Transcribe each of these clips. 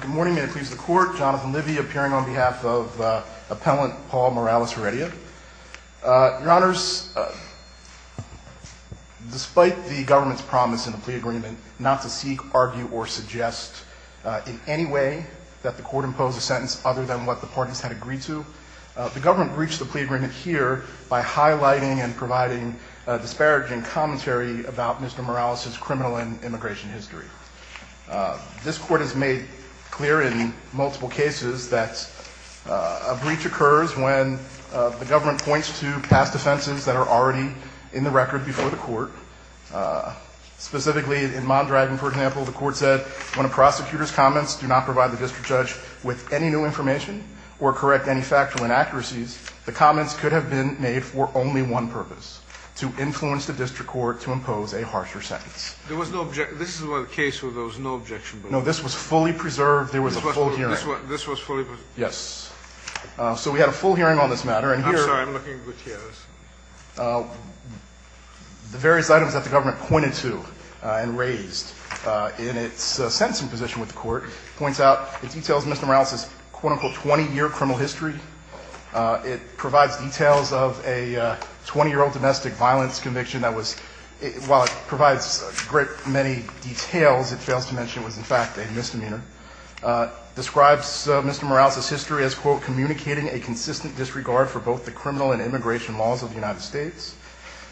Good morning. May it please the Court, Jonathan Livy appearing on behalf of Appellant Paul Morales Heredia. Your Honors, despite the government's promise in the plea agreement not to seek, argue, or suggest in any way that the Court impose a sentence other than what the parties had agreed to, the government breached the plea agreement here by highlighting and providing disparaging commentary about Mr. Morales' criminal and immigration history. This Court has made clear in multiple cases that a breach occurs when the government points to past offenses that are already in the record before the Court. Specifically, in Mondragon, for example, the Court said when a prosecutor's comments do not provide the district judge with any new information or correct any factual inaccuracies, the comments could have been made for only one purpose, to influence the district court to impose a harsher sentence. There was no objection. This is one of the cases where there was no objection. No, this was fully preserved. There was a full hearing. This was fully preserved? Yes. So we had a full hearing on this matter. I'm sorry. I'm looking with the others. The various items that the government pointed to and raised in its sentencing position with the Court points out it details Mr. Morales' quote-unquote 20-year criminal history. It provides details of a 20-year-old domestic violence conviction that was, while it provides a great many details, it fails to mention it was in fact a misdemeanor. Describes Mr. Morales' history as quote, communicating a consistent disregard for both the criminal and immigration laws of the United States.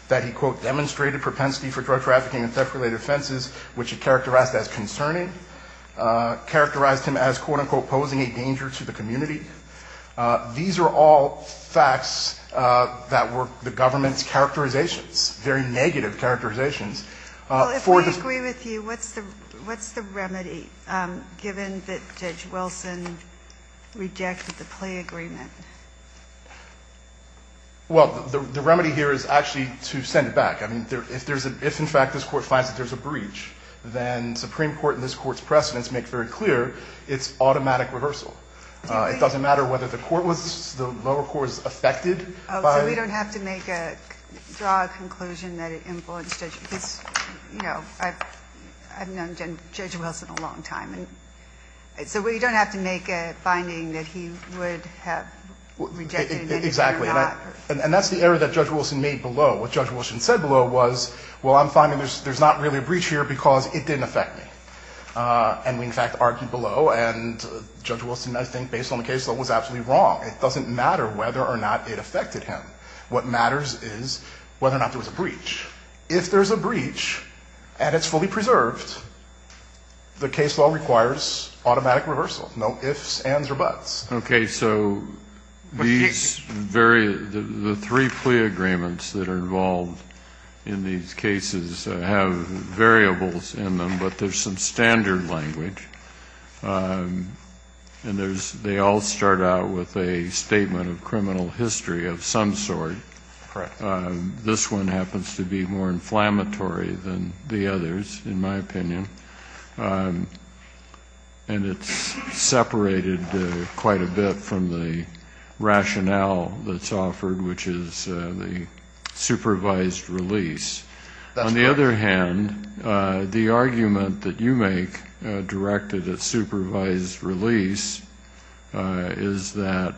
That he quote, demonstrated propensity for drug trafficking and theft-related offenses which it characterized as concerning. Characterized him as quote-unquote posing a danger to the community. These are all facts that were the government's characterizations. Very negative characterizations. Well, if I agree with you, what's the remedy, given that Judge Wilson rejected the plea agreement? Well, the remedy here is actually to send it back. I mean, if in fact this Court finds that there's a breach, then Supreme Court and this Court's precedents make very clear it's automatic reversal. It doesn't matter whether the lower court was affected by it. Oh, so we don't have to make a, draw a conclusion that it influenced Judge, because, you know, I've known Judge Wilson a long time, and so we don't have to make a finding that he would have rejected it or not. Exactly. And that's the error that Judge Wilson made below. What Judge Wilson said below was, well, I'm finding there's not really a breach here because it didn't affect me. And we in fact argued below, and Judge Wilson, I think, based on the case, was absolutely wrong. It doesn't matter whether or not it affected him. What matters is whether or not there was a breach. If there's a breach and it's fully preserved, the case law requires automatic reversal. No ifs, ands, or buts. Okay. So these various, the three plea agreements that are involved in these cases have variables in them, but there's some standard language. And they all start out with a statement of criminal history of some sort. Correct. This one happens to be more inflammatory than the others, in my opinion. And it's separated quite a bit from the rationale that's offered, which is the supervised release. On the other hand, the argument that you make directed at supervised release is that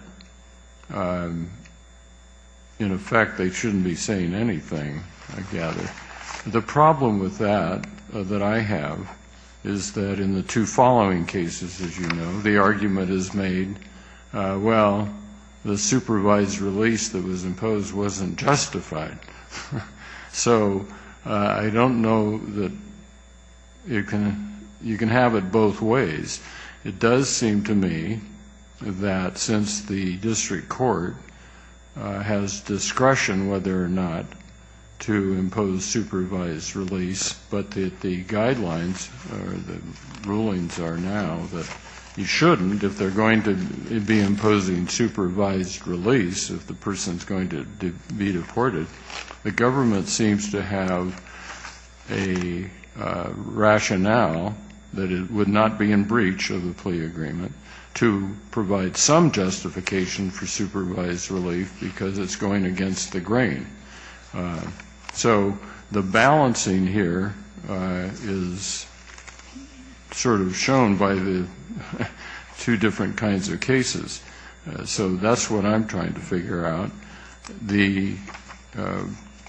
in effect they shouldn't be saying anything, I gather. The problem with that that I have is that in the two following cases, as you know, the argument is made, well, the supervised release that was imposed wasn't justified. So I don't know that you can have it both ways. It does seem to me that since the district court has discretion whether or not to impose supervised release, but the guidelines or the rulings are now that you shouldn't if they're going to be imposing supervised release, if the person's going to be deported, the government seems to have a rationale that it would not be in breach of the plea agreement to provide some justification for supervised relief because it's going against the grain. So the balancing here is sort of shown by the two different kinds of cases. So that's what I'm trying to figure out. The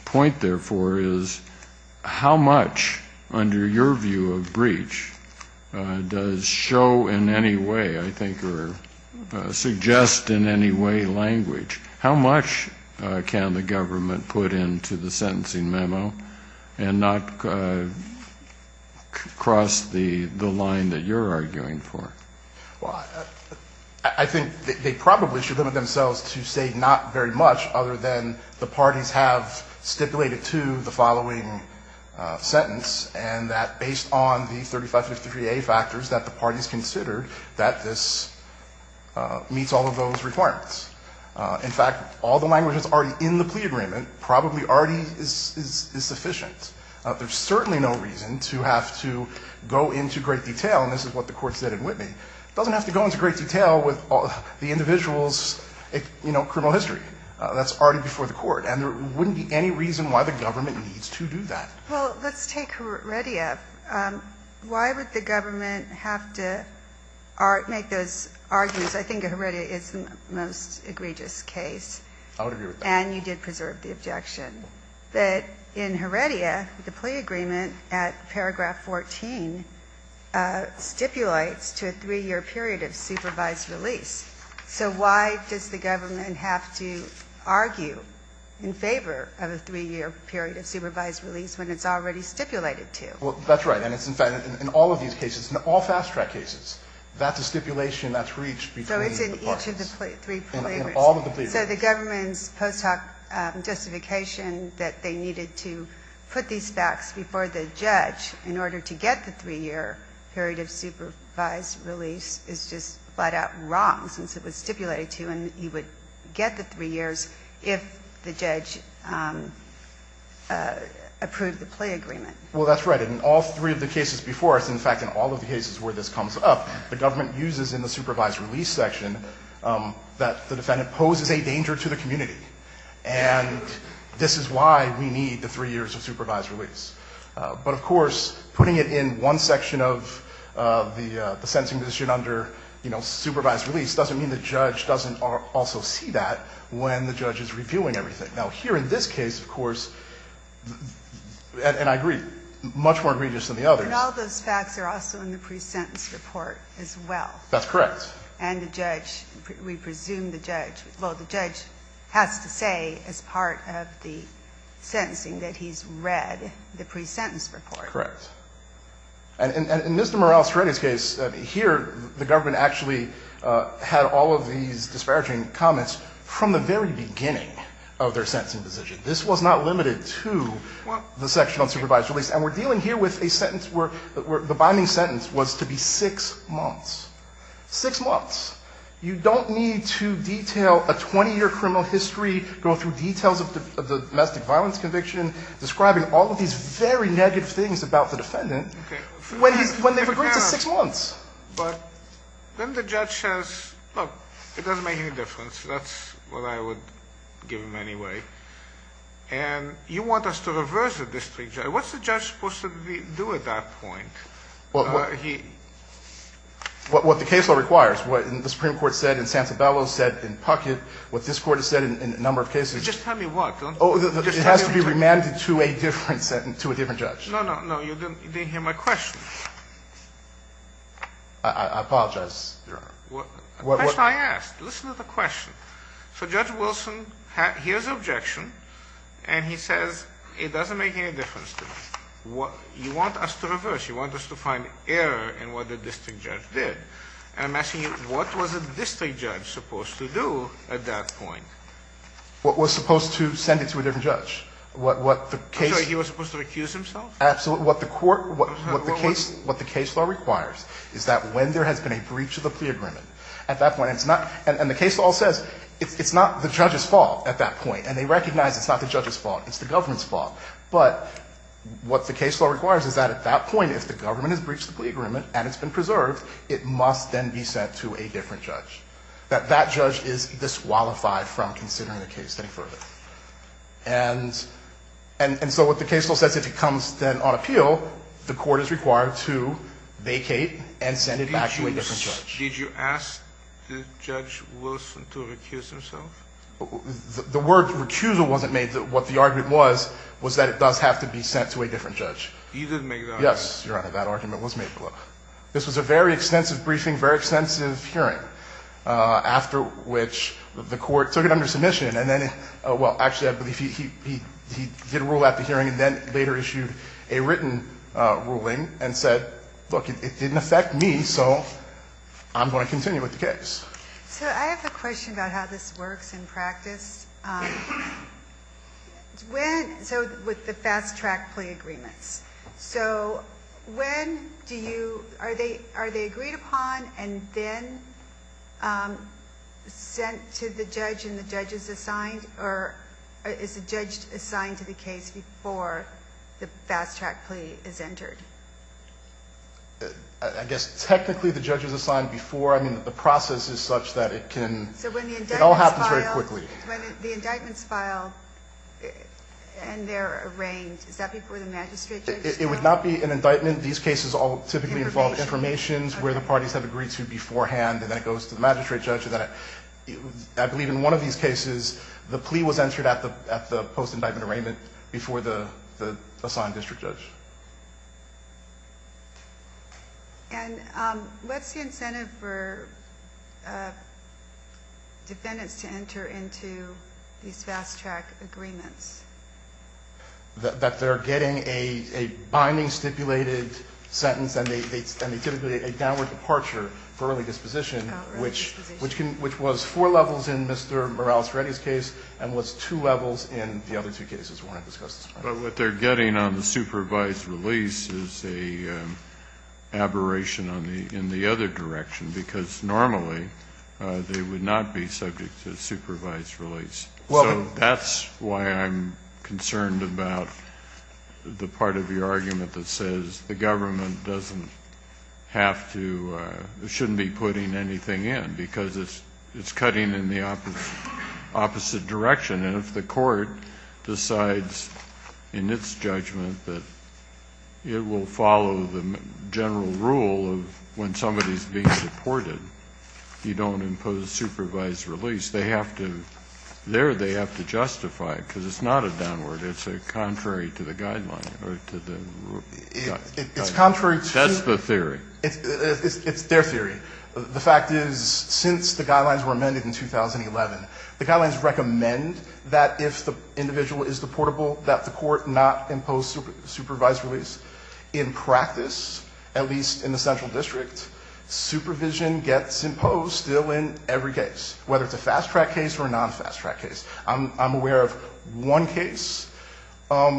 point, therefore, is how much under your view of breach does show in any way, I think, or suggest in any way language? How much can the government put into the sentencing memo and not cross the line that you're arguing for? Well, I think they probably should limit themselves to say not very much other than the parties have stipulated to the following sentence and that based on the 3553A factors that the parties considered that this meets all of those requirements. In fact, all the language that's already in the plea agreement probably already is sufficient. There's certainly no reason to have to go into great detail, and this is what the court said, doesn't have to go into great detail with the individual's, you know, criminal history. That's already before the court. And there wouldn't be any reason why the government needs to do that. Well, let's take Heredia. Why would the government have to make those arguments? I think Heredia is the most egregious case. I would agree with that. And you did preserve the objection. But in Heredia, the plea agreement at paragraph 14 stipulates to a three-year period of supervised release. So why does the government have to argue in favor of a three-year period of supervised release when it's already stipulated to? Well, that's right. And it's in fact in all of these cases, in all fast-track cases, that's a stipulation that's reached between the parties. So it's in each of the three plea agreements. In all of the plea agreements. And so the government's post hoc justification that they needed to put these facts before the judge in order to get the three-year period of supervised release is just flat-out wrong, since it was stipulated to and you would get the three years if the judge approved the plea agreement. Well, that's right. In all three of the cases before us, in fact in all of the cases where this comes up, the government uses in the supervised release section that the defendant poses a danger to the community. And this is why we need the three years of supervised release. But of course, putting it in one section of the sentencing position under, you know, supervised release doesn't mean the judge doesn't also see that when the judge is reviewing everything. Now, here in this case, of course, and I agree, much more egregious than the others. And all those facts are also in the pre-sentence report as well. That's correct. And the judge, we presume the judge, well, the judge has to say as part of the sentencing that he's read the pre-sentence report. Correct. And in Mr. Morrell's case, here the government actually had all of these disparaging comments from the very beginning of their sentencing position. This was not limited to the section on supervised release. And we're dealing here with a sentence where the binding sentence was to be six months. Six months. You don't need to detail a 20-year criminal history, go through details of the domestic violence conviction, describing all of these very negative things about the defendant when they've agreed to six months. But then the judge says, look, it doesn't make any difference. That's what I would give him anyway. And you want us to reverse the district. What's the judge supposed to do at that point? Well, what the case law requires, what the Supreme Court said in Santabello said in Puckett, what this Court has said in a number of cases. Just tell me what. Oh, it has to be remanded to a different sentence, to a different judge. No, no, no. You didn't hear my question. I apologize, Your Honor. The question I asked. Listen to the question. So Judge Wilson hears the objection, and he says, it doesn't make any difference to me. You want us to reverse. You want us to find error in what the district judge did. And I'm asking you, what was a district judge supposed to do at that point? Well, it was supposed to send it to a different judge. What the case. I'm sorry. He was supposed to recuse himself? Absolutely. What the court, what the case law requires is that when there has been a breach of the plea agreement, at that point it's not. And the case law says it's not the judge's fault at that point. And they recognize it's not the judge's fault. It's the government's fault. But what the case law requires is that at that point, if the government has breached the plea agreement and it's been preserved, it must then be sent to a different judge. That that judge is disqualified from considering the case any further. And so what the case law says, if it comes then on appeal, the Court is required to vacate and send it back to a different judge. Did you ask Judge Wilson to recuse himself? The word recusal wasn't made. What the argument was, was that it does have to be sent to a different judge. You didn't make that argument. Yes, Your Honor. That argument was made below. This was a very extensive briefing, very extensive hearing, after which the Court took it under submission. And then, well, actually, I believe he did rule at the hearing and then later issued a written ruling and said, look, it didn't affect me. So I'm going to continue with the case. So I have a question about how this works in practice. So with the fast-track plea agreements, so when do you – are they agreed upon and then sent to the judge and the judge is assigned or is the judge assigned to the case before the fast-track plea is entered? I guess technically the judge is assigned before. I mean, the process is such that it can – it all happens very quickly. So when the indictments file and they're arraigned, is that before the magistrate judge's trial? It would not be an indictment. These cases all typically involve informations where the parties have agreed to beforehand and that goes to the magistrate judge. I believe in one of these cases the plea was entered at the post-indictment arraignment before the assigned district judge. And what's the incentive for defendants to enter into these fast-track agreements? That they're getting a binding stipulated sentence and they typically get a downward departure for early disposition, which was four levels in Mr. Morales-Reddy's case and was two levels in the other two cases we're going to discuss this morning. But what they're getting on the supervised release is an aberration in the other direction, because normally they would not be subject to supervised release. So that's why I'm concerned about the part of your argument that says the government doesn't have to – shouldn't be putting anything in, because it's cutting in the opposite direction. And if the court decides in its judgment that it will follow the general rule of when somebody is being deported, you don't impose supervised release. They have to – there they have to justify it, because it's not a downward. It's a contrary to the guideline or to the rule. It's contrary to the theory. It's their theory. The fact is, since the guidelines were amended in 2011, the guidelines recommend that if the individual is deportable, that the court not impose supervised release. In practice, at least in the central district, supervision gets imposed still in every case, whether it's a fast-track case or a non-fast-track case. I'm aware of one case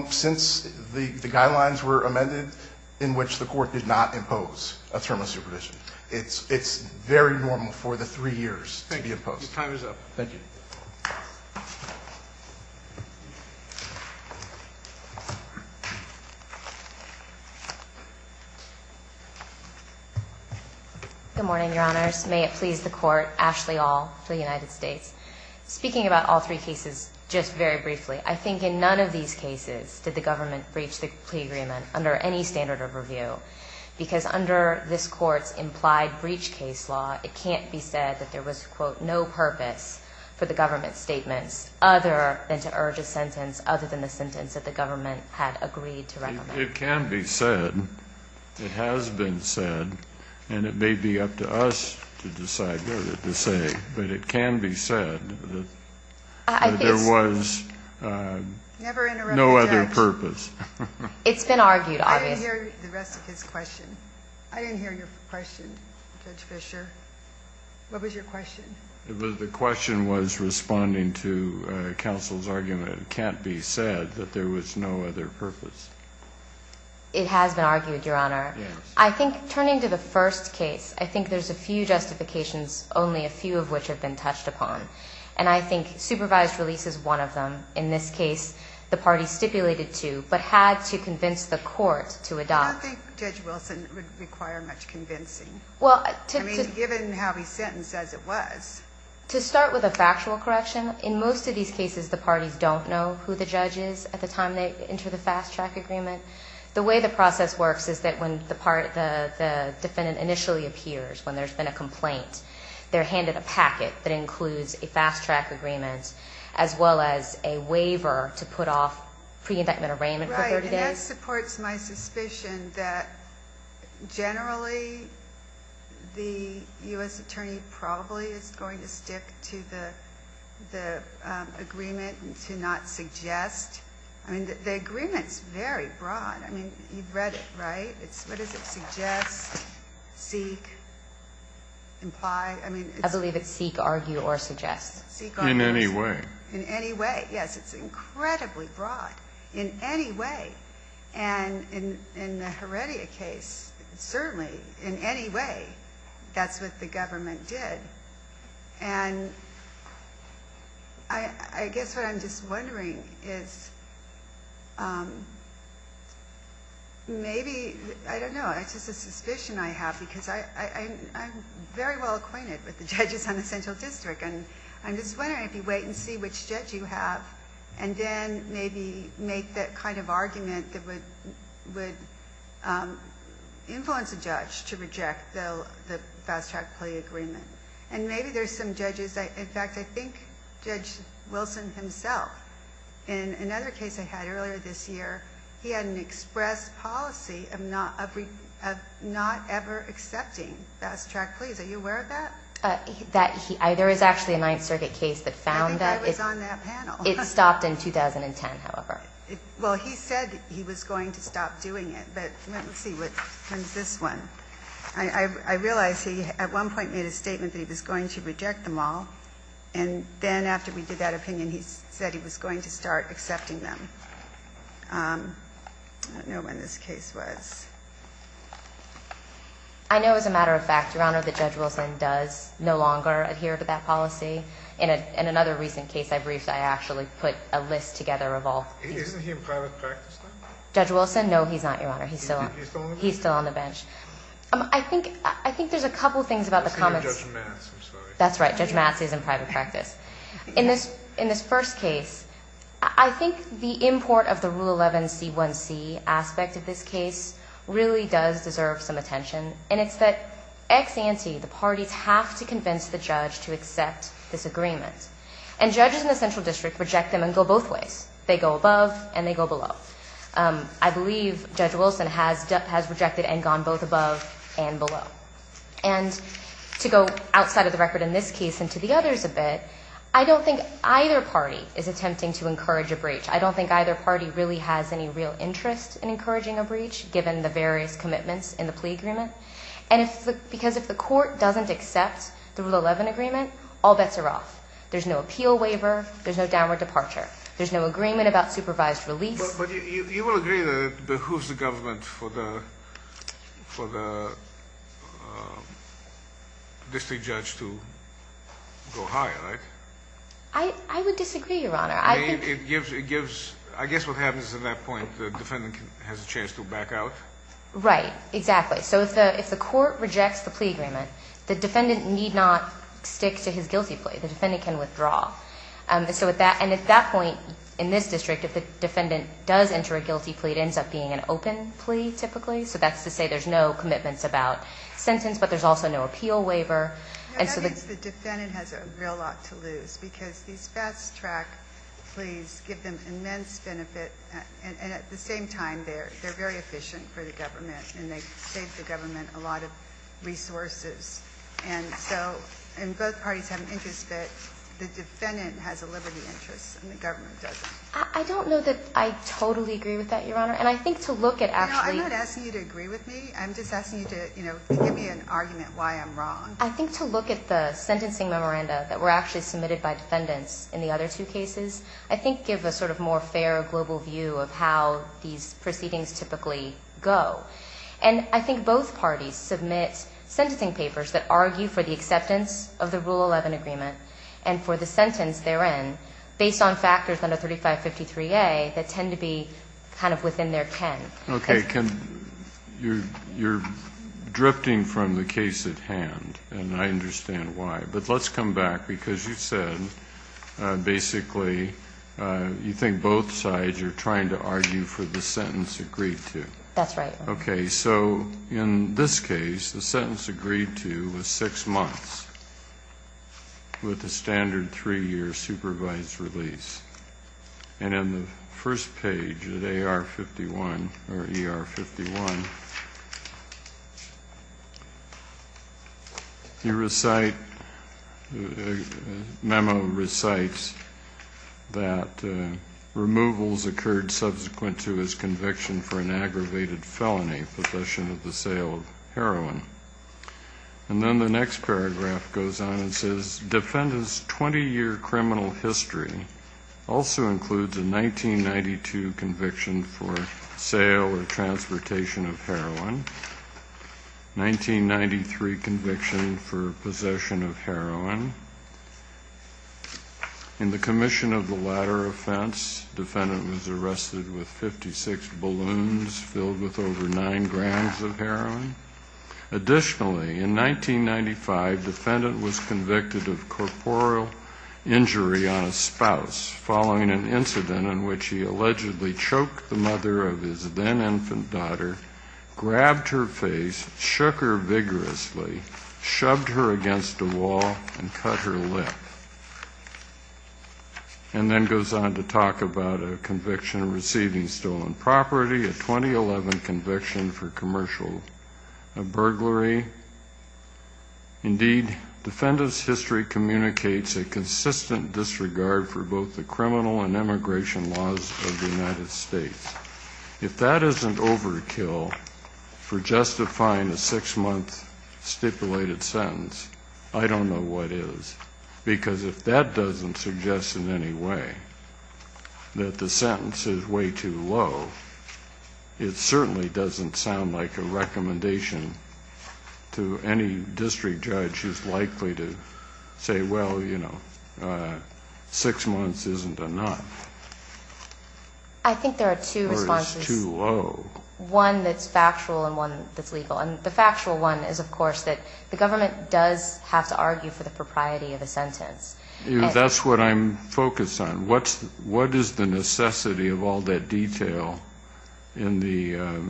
since the guidelines were amended in which the court did not impose a term of supervision. It's very normal for the three years to be imposed. Thank you. Your time is up. Thank you. Good morning, Your Honors. May it please the Court. Ashley Aul for the United States. Speaking about all three cases just very briefly, I think in none of these cases did the government breach the plea agreement under any standard of review, because under this Court's implied breach case law, it can't be said that there was, quote, no purpose for the government's statements other than to urge a sentence other than the sentence that the government had agreed to recommend. It can be said. It has been said. And it may be up to us to decide whether to say, but it can be said that there was no other purpose. It's been argued, obviously. I didn't hear the rest of his question. I didn't hear your question, Judge Fischer. What was your question? The question was responding to counsel's argument. It can't be said that there was no other purpose. It has been argued, Your Honor. Yes. I think turning to the first case, I think there's a few justifications, only a few of which have been touched upon. And I think supervised release is one of them. In this case, the party stipulated to, but had to convince the court to adopt. I don't think Judge Wilson would require much convincing. I mean, given how he sentenced, as it was. To start with a factual correction, in most of these cases, the parties don't know who the judge is at the time they enter the fast-track agreement. The way the process works is that when the defendant initially appears, when there's been a complaint, they're handed a packet that includes a fast-track agreement, as well as a waiver to put off pre-indictment arraignment for 30 days. Right. And that supports my suspicion that generally the U.S. attorney probably is going to stick to the agreement and to not suggest. I mean, the agreement's very broad. I mean, you've read it, right? What does it suggest, seek, imply? I believe it's seek, argue, or suggest. Seek, argue, or suggest. In any way. In any way, yes. It's incredibly broad. In any way. And in the Heredia case, certainly, in any way, that's what the government did. And I guess what I'm just wondering is maybe, I don't know, it's just a suspicion I have because I'm very well acquainted with the judges on the central district. And I'm just wondering if you wait and see which judge you have, and then maybe make that kind of argument that would influence a judge to reject the fast-track plea agreement. And maybe there's some judges, in fact, I think Judge Wilson himself, in another case I had earlier this year, he had an express policy of not ever accepting fast-track pleas. Are you aware of that? There is actually a Ninth Circuit case that found that. I think I was on that panel. It stopped in 2010, however. Well, he said he was going to stop doing it. But let me see what happens with this one. I realize he, at one point, made a statement that he was going to reject them all. And then after we did that opinion, he said he was going to start accepting them. I don't know when this case was. I know, as a matter of fact, Your Honor, that Judge Wilson does no longer adhere to that policy. In another recent case I briefed, I actually put a list together of all. Isn't he in private practice now? Judge Wilson? No, he's not, Your Honor. He's still on the bench. He's still on the bench. I think there's a couple of things about the comments. I see you're Judge Matz. I'm sorry. That's right. Judge Matz is in private practice. In this first case, I think the import of the Rule 11C1C aspect of this case really does deserve some attention. And it's that ex ante, the parties have to convince the judge to accept this agreement. And judges in the central district reject them and go both ways. They go above and they go below. I believe Judge Wilson has rejected and gone both above and below. And to go outside of the record in this case and to the others a bit, I don't think either party is attempting to encourage a breach. I don't think either party really has any real interest in encouraging a breach, given the various commitments in the plea agreement. And because if the court doesn't accept the Rule 11 agreement, all bets are off. There's no appeal waiver. There's no downward departure. There's no agreement about supervised release. But you will agree that it behooves the government for the district judge to go higher, right? I would disagree, Your Honor. I guess what happens at that point, the defendant has a chance to back out. Right. Exactly. So if the court rejects the plea agreement, the defendant need not stick to his guilty plea. The defendant can withdraw. And at that point in this district, if the defendant does enter a guilty plea, it ends up being an open plea, typically. So that's to say there's no commitments about sentence, but there's also no appeal waiver. I think the defendant has a real lot to lose because these fast-track pleas give them immense benefit. And at the same time, they're very efficient for the government, and they save the government a lot of resources. And so both parties have an interest that the defendant has a liberty interest and the government doesn't. I don't know that I totally agree with that, Your Honor. And I think to look at actually ---- No, I'm not asking you to agree with me. I'm just asking you to give me an argument why I'm wrong. I think to look at the sentencing memoranda that were actually submitted by defendants in the other two cases, I think give a sort of more fair global view of how these proceedings typically go. And I think both parties submit sentencing papers that argue for the acceptance of the Rule 11 agreement and for the sentence therein based on factors under 3553A that tend to be kind of within their ken. Okay. You're drifting from the case at hand, and I understand why. But let's come back because you said basically you think both sides are trying to argue for the sentence agreed to. That's right. Okay. So in this case, the sentence agreed to was six months with a standard three-year supervised release. And in the first page of AR-51, or ER-51, you recite, the memo recites that removals occurred subsequent to his conviction for an aggravated felony, possession of the sale of heroin. And then the next paragraph goes on and says, defendant's 20-year criminal history also includes a 1992 conviction for sale or transportation of heroin, 1993 conviction for possession of heroin. In the commission of the latter offense, defendant was arrested with 56 balloons filled with over nine grams of heroin. Additionally, in 1995, defendant was convicted of corporeal injury on a spouse following an incident in which he allegedly choked the mother of his then-infant daughter, grabbed her face, shook her vigorously, shoved her against a wall, and cut her lip. And then goes on to talk about a conviction receiving stolen property, a 2011 conviction for commercial burglary. Indeed, defendant's history communicates a consistent disregard for both the criminal and immigration laws of the United States. If that isn't overkill for justifying a six-month stipulated sentence, I don't know what is. Because if that doesn't suggest in any way that the sentence is way too low, it certainly doesn't sound like a recommendation to any district judge who's likely to say, well, you know, six months isn't enough. I think there are two responses. Or is too low. One that's factual and one that's legal. And the factual one is, of course, that the government does have to argue for the propriety of the sentence. That's what I'm focused on. What is the necessity of all that detail in the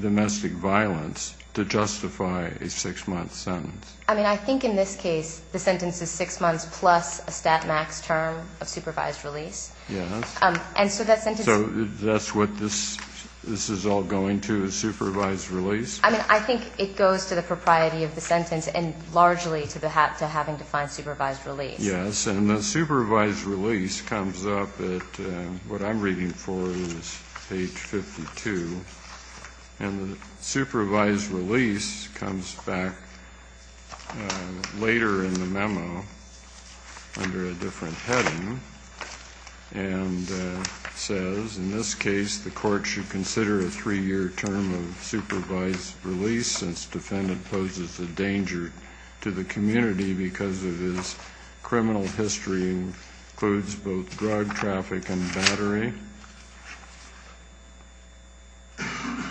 domestic violence to justify a six-month sentence? I mean, I think in this case the sentence is six months plus a stat max term of supervised release. Yes. And so that sentence So that's what this is all going to, is supervised release? I mean, I think it goes to the propriety of the sentence and largely to having to find supervised release. Yes. And the supervised release comes up at what I'm reading for is page 52. And the supervised release comes back later in the memo under a different heading and says, in this case the court should consider a three-year term of supervised release since defendant poses a danger to the community because of his criminal history and includes both drug traffic and battery.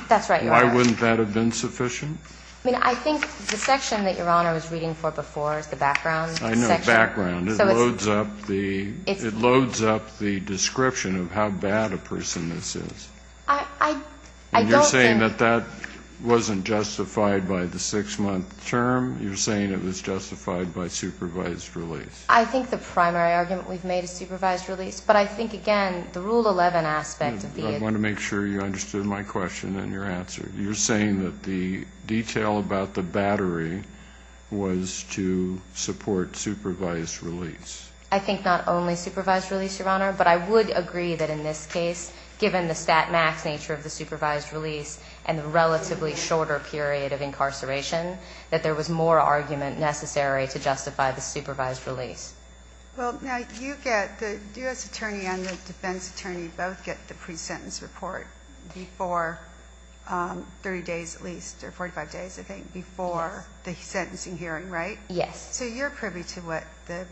That's right, Your Honor. Why wouldn't that have been sufficient? I mean, I think the section that Your Honor was reading for before is the background section. I know, background. It loads up the description of how bad a person this is. I don't think And you're saying that that wasn't justified by the six-month term? You're saying it was justified by supervised release? I think the primary argument we've made is supervised release, but I think, again, the Rule 11 aspect of the I want to make sure you understood my question and your answer. You're saying that the detail about the battery was to support supervised release? I think not only supervised release, Your Honor, but I would agree that in this case, given the stat max nature of the supervised release and the relatively shorter period of incarceration, that there was more argument necessary to justify the supervised release. Well, now, you get the U.S. attorney and the defense attorney both get the pre-sentence report before 30 days at least, or 45 days, I think, before the sentencing hearing, right? Yes. So you're privy to what the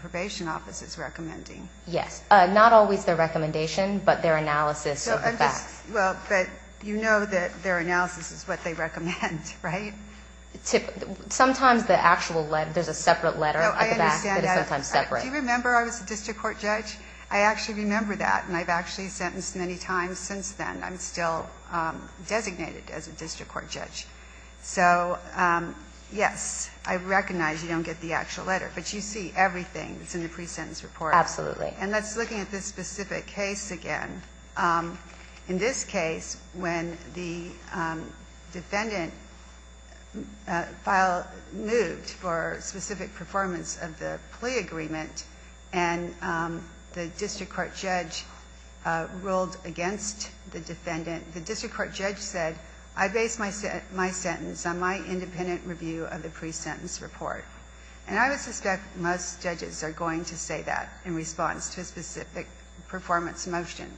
probation office is recommending? Yes. Not always their recommendation, but their analysis of the facts. Well, but you know that their analysis is what they recommend, right? Sometimes the actual letter, there's a separate letter at the back that is sometimes separate. Do you remember I was a district court judge? I actually remember that, and I've actually sentenced many times since then. I'm still designated as a district court judge. So, yes, I recognize you don't get the actual letter, but you see everything that's in the pre-sentence report. Absolutely. And let's look at this specific case again. In this case, when the defendant moved for specific performance of the plea agreement and the district court judge ruled against the defendant, the district court judge said, I base my sentence on my independent review of the pre-sentence report. And I would suspect most judges are going to say that in response to a specific performance motion.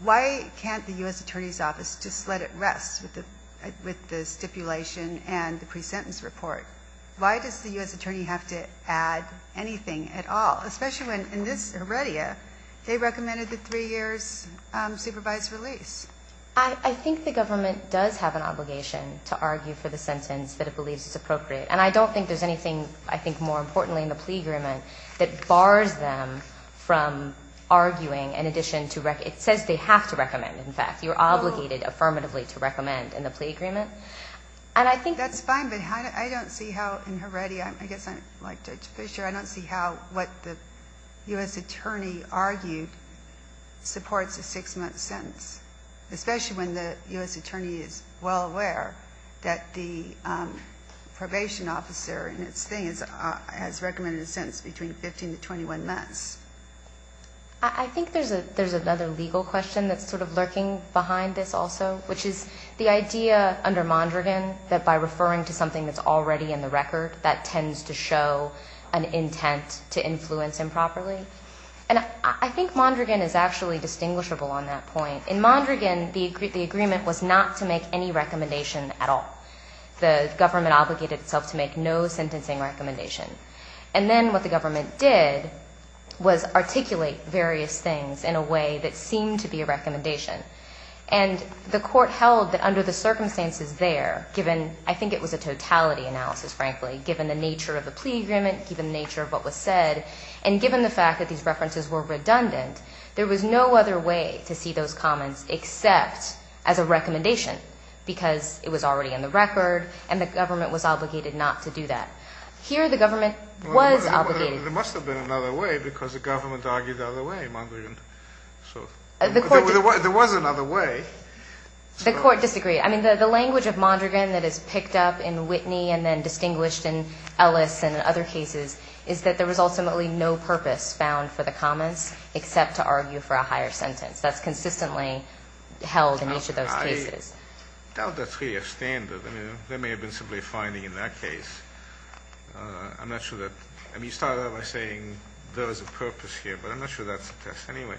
Why can't the U.S. Attorney's Office just let it rest with the stipulation and the pre-sentence report? Why does the U.S. Attorney have to add anything at all, especially when in this heredia they recommended the three years supervised release? I think the government does have an obligation to argue for the sentence that it believes is appropriate. And I don't think there's anything I think more importantly in the plea agreement that bars them from arguing in addition to it says they have to recommend. In fact, you're obligated affirmatively to recommend in the plea agreement. That's fine, but I don't see how in heredia, I guess like Judge Fischer, I don't see how what the U.S. Attorney argued supports a six-month sentence, especially when the U.S. Attorney is well aware that the probation officer in its thing has recommended a sentence between 15 to 21 months. I think there's another legal question that's sort of lurking behind this also, which is the idea under Mondragon that by referring to something that's already in the record, that tends to show an intent to influence improperly. And I think Mondragon is actually distinguishable on that point. In Mondragon, the agreement was not to make any recommendation at all. The government obligated itself to make no sentencing recommendation. And then what the government did was articulate various things in a way that seemed to be a recommendation. And the court held that under the circumstances there, given I think it was a totality analysis, frankly, given the nature of the plea agreement, given the nature of what was said, and given the fact that these references were redundant, there was no other way to see those comments except as a recommendation because it was already in the record and the government was obligated not to do that. Here the government was obligated. There must have been another way because the government argued the other way, Mondragon. There was another way. The court disagreed. I mean, the language of Mondragon that is picked up in Whitney and then distinguished in Ellis and other cases is that there was ultimately no purpose found for the comments except to argue for a higher sentence. That's consistently held in each of those cases. I doubt that's really a standard. I mean, they may have been simply finding in that case. I'm not sure that. I mean, you started out by saying there was a purpose here, but I'm not sure that's the case anyway.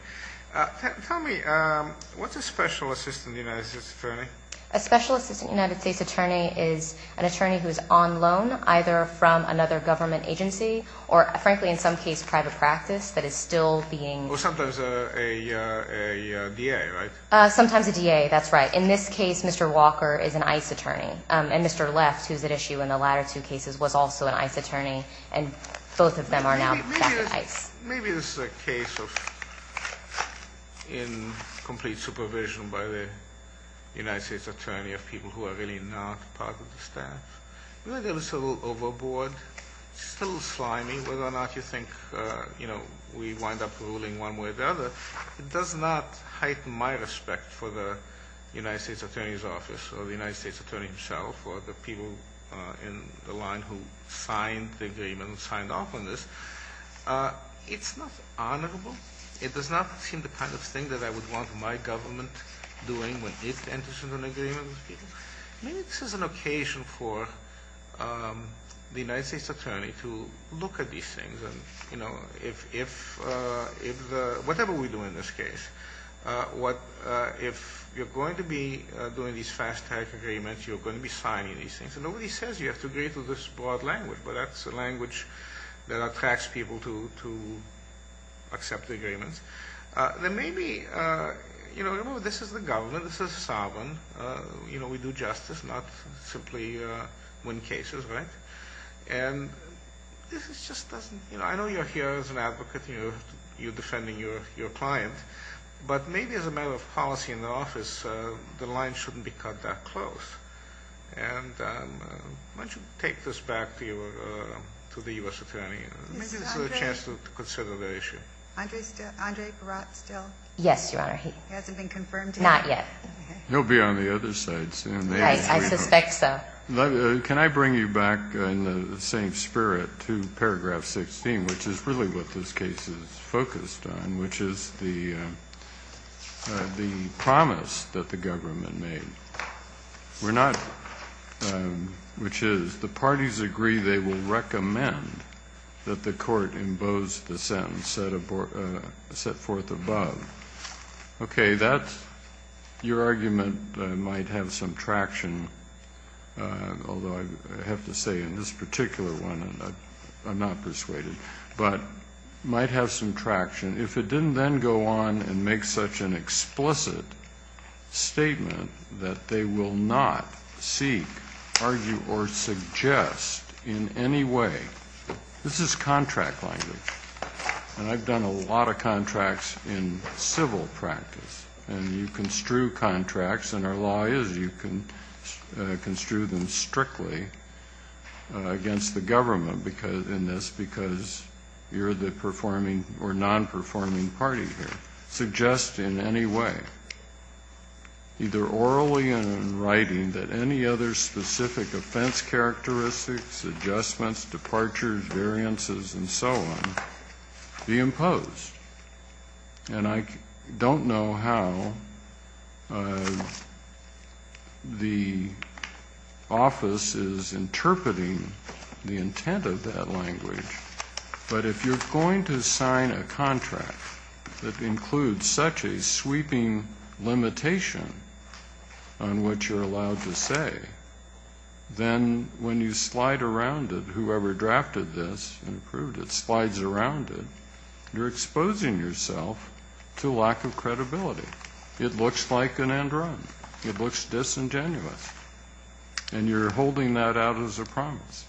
Tell me, what's a special assistant United States attorney? A special assistant United States attorney is an attorney who is on loan, either from another government agency or, frankly, in some case, private practice that is still being used. Or sometimes a DA, right? Sometimes a DA, that's right. In this case, Mr. Walker is an ICE attorney, and Mr. Left, who's at issue in the latter two cases, was also an ICE attorney, and both of them are now back at ICE. Maybe this is a case of incomplete supervision by the United States attorney of people who are really not part of the staff. Maybe that was a little overboard, just a little slimy, whether or not you think, you know, we wind up ruling one way or the other. It does not heighten my respect for the United States attorney's office or the United States attorney himself or the people in the line who signed the agreement and signed off on this. It's not honorable. It does not seem the kind of thing that I would want my government doing when it enters into an agreement with people. Maybe this is an occasion for the United States attorney to look at these things. Whatever we do in this case, if you're going to be doing these fast-track agreements, you're going to be signing these things. Nobody says you have to agree to this broad language, but that's the language that attracts people to accept the agreements. Then maybe, you know, this is the government. This is sovereign. We do justice, not simply win cases, right? And this just doesn't, you know, I know you're here as an advocate. You're defending your client. But maybe as a matter of policy in the office, the line shouldn't be cut that close. And why don't you take this back to the U.S. attorney? This is a chance to consider the issue. Andre Barat still? Yes, Your Honor. He hasn't been confirmed yet? Not yet. He'll be on the other side soon. Right. I suspect so. Can I bring you back in the same spirit to paragraph 16, which is really what this case is focused on, which is the promise that the government made, which is, the parties agree they will recommend that the court impose the sentence set forth above. Okay, that's your argument might have some traction, although I have to say in this particular one I'm not persuaded, but might have some traction. If it didn't then go on and make such an explicit statement that they will not seek, argue, or suggest in any way. This is contract language. And I've done a lot of contracts in civil practice. And you construe contracts, and our law is you can construe them strictly against the government in this because you're the performing or non-performing party here. Suggest in any way, either orally and in writing, that any other specific offense characteristics, adjustments, departures, variances, and so on be imposed. And I don't know how the office is interpreting the intent of that language. But if you're going to sign a contract that includes such a sweeping limitation on what you're allowed to say, then when you slide around it, whoever drafted this and approved it, slides around it, you're exposing yourself to lack of credibility. It looks like an end run. It looks disingenuous. And you're holding that out as a promise.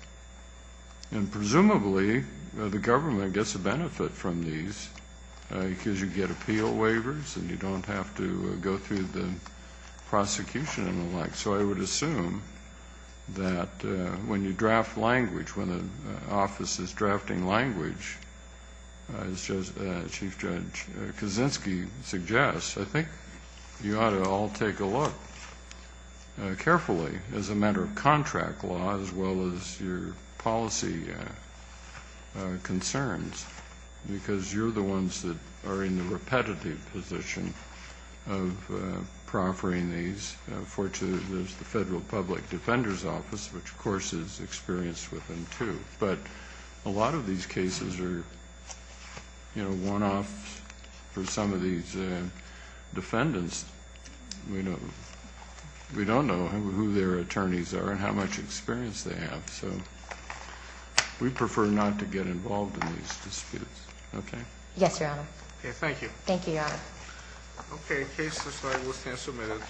And presumably the government gets a benefit from these because you get appeal waivers and you don't have to go through the prosecution and the like. So I would assume that when you draft language, when the office is drafting language, as Chief Judge Kaczynski suggests, I think you ought to all take a look carefully as a matter of contract law as well as your policy concerns because you're the ones that are in the repetitive position of proffering these. Fortunately, there's the Federal Public Defender's Office, which, of course, is experienced with them too. But a lot of these cases are one-offs for some of these defendants. We don't know who their attorneys are and how much experience they have, so we prefer not to get involved in these disputes. Okay? Yes, Your Honor. Thank you, Your Honor.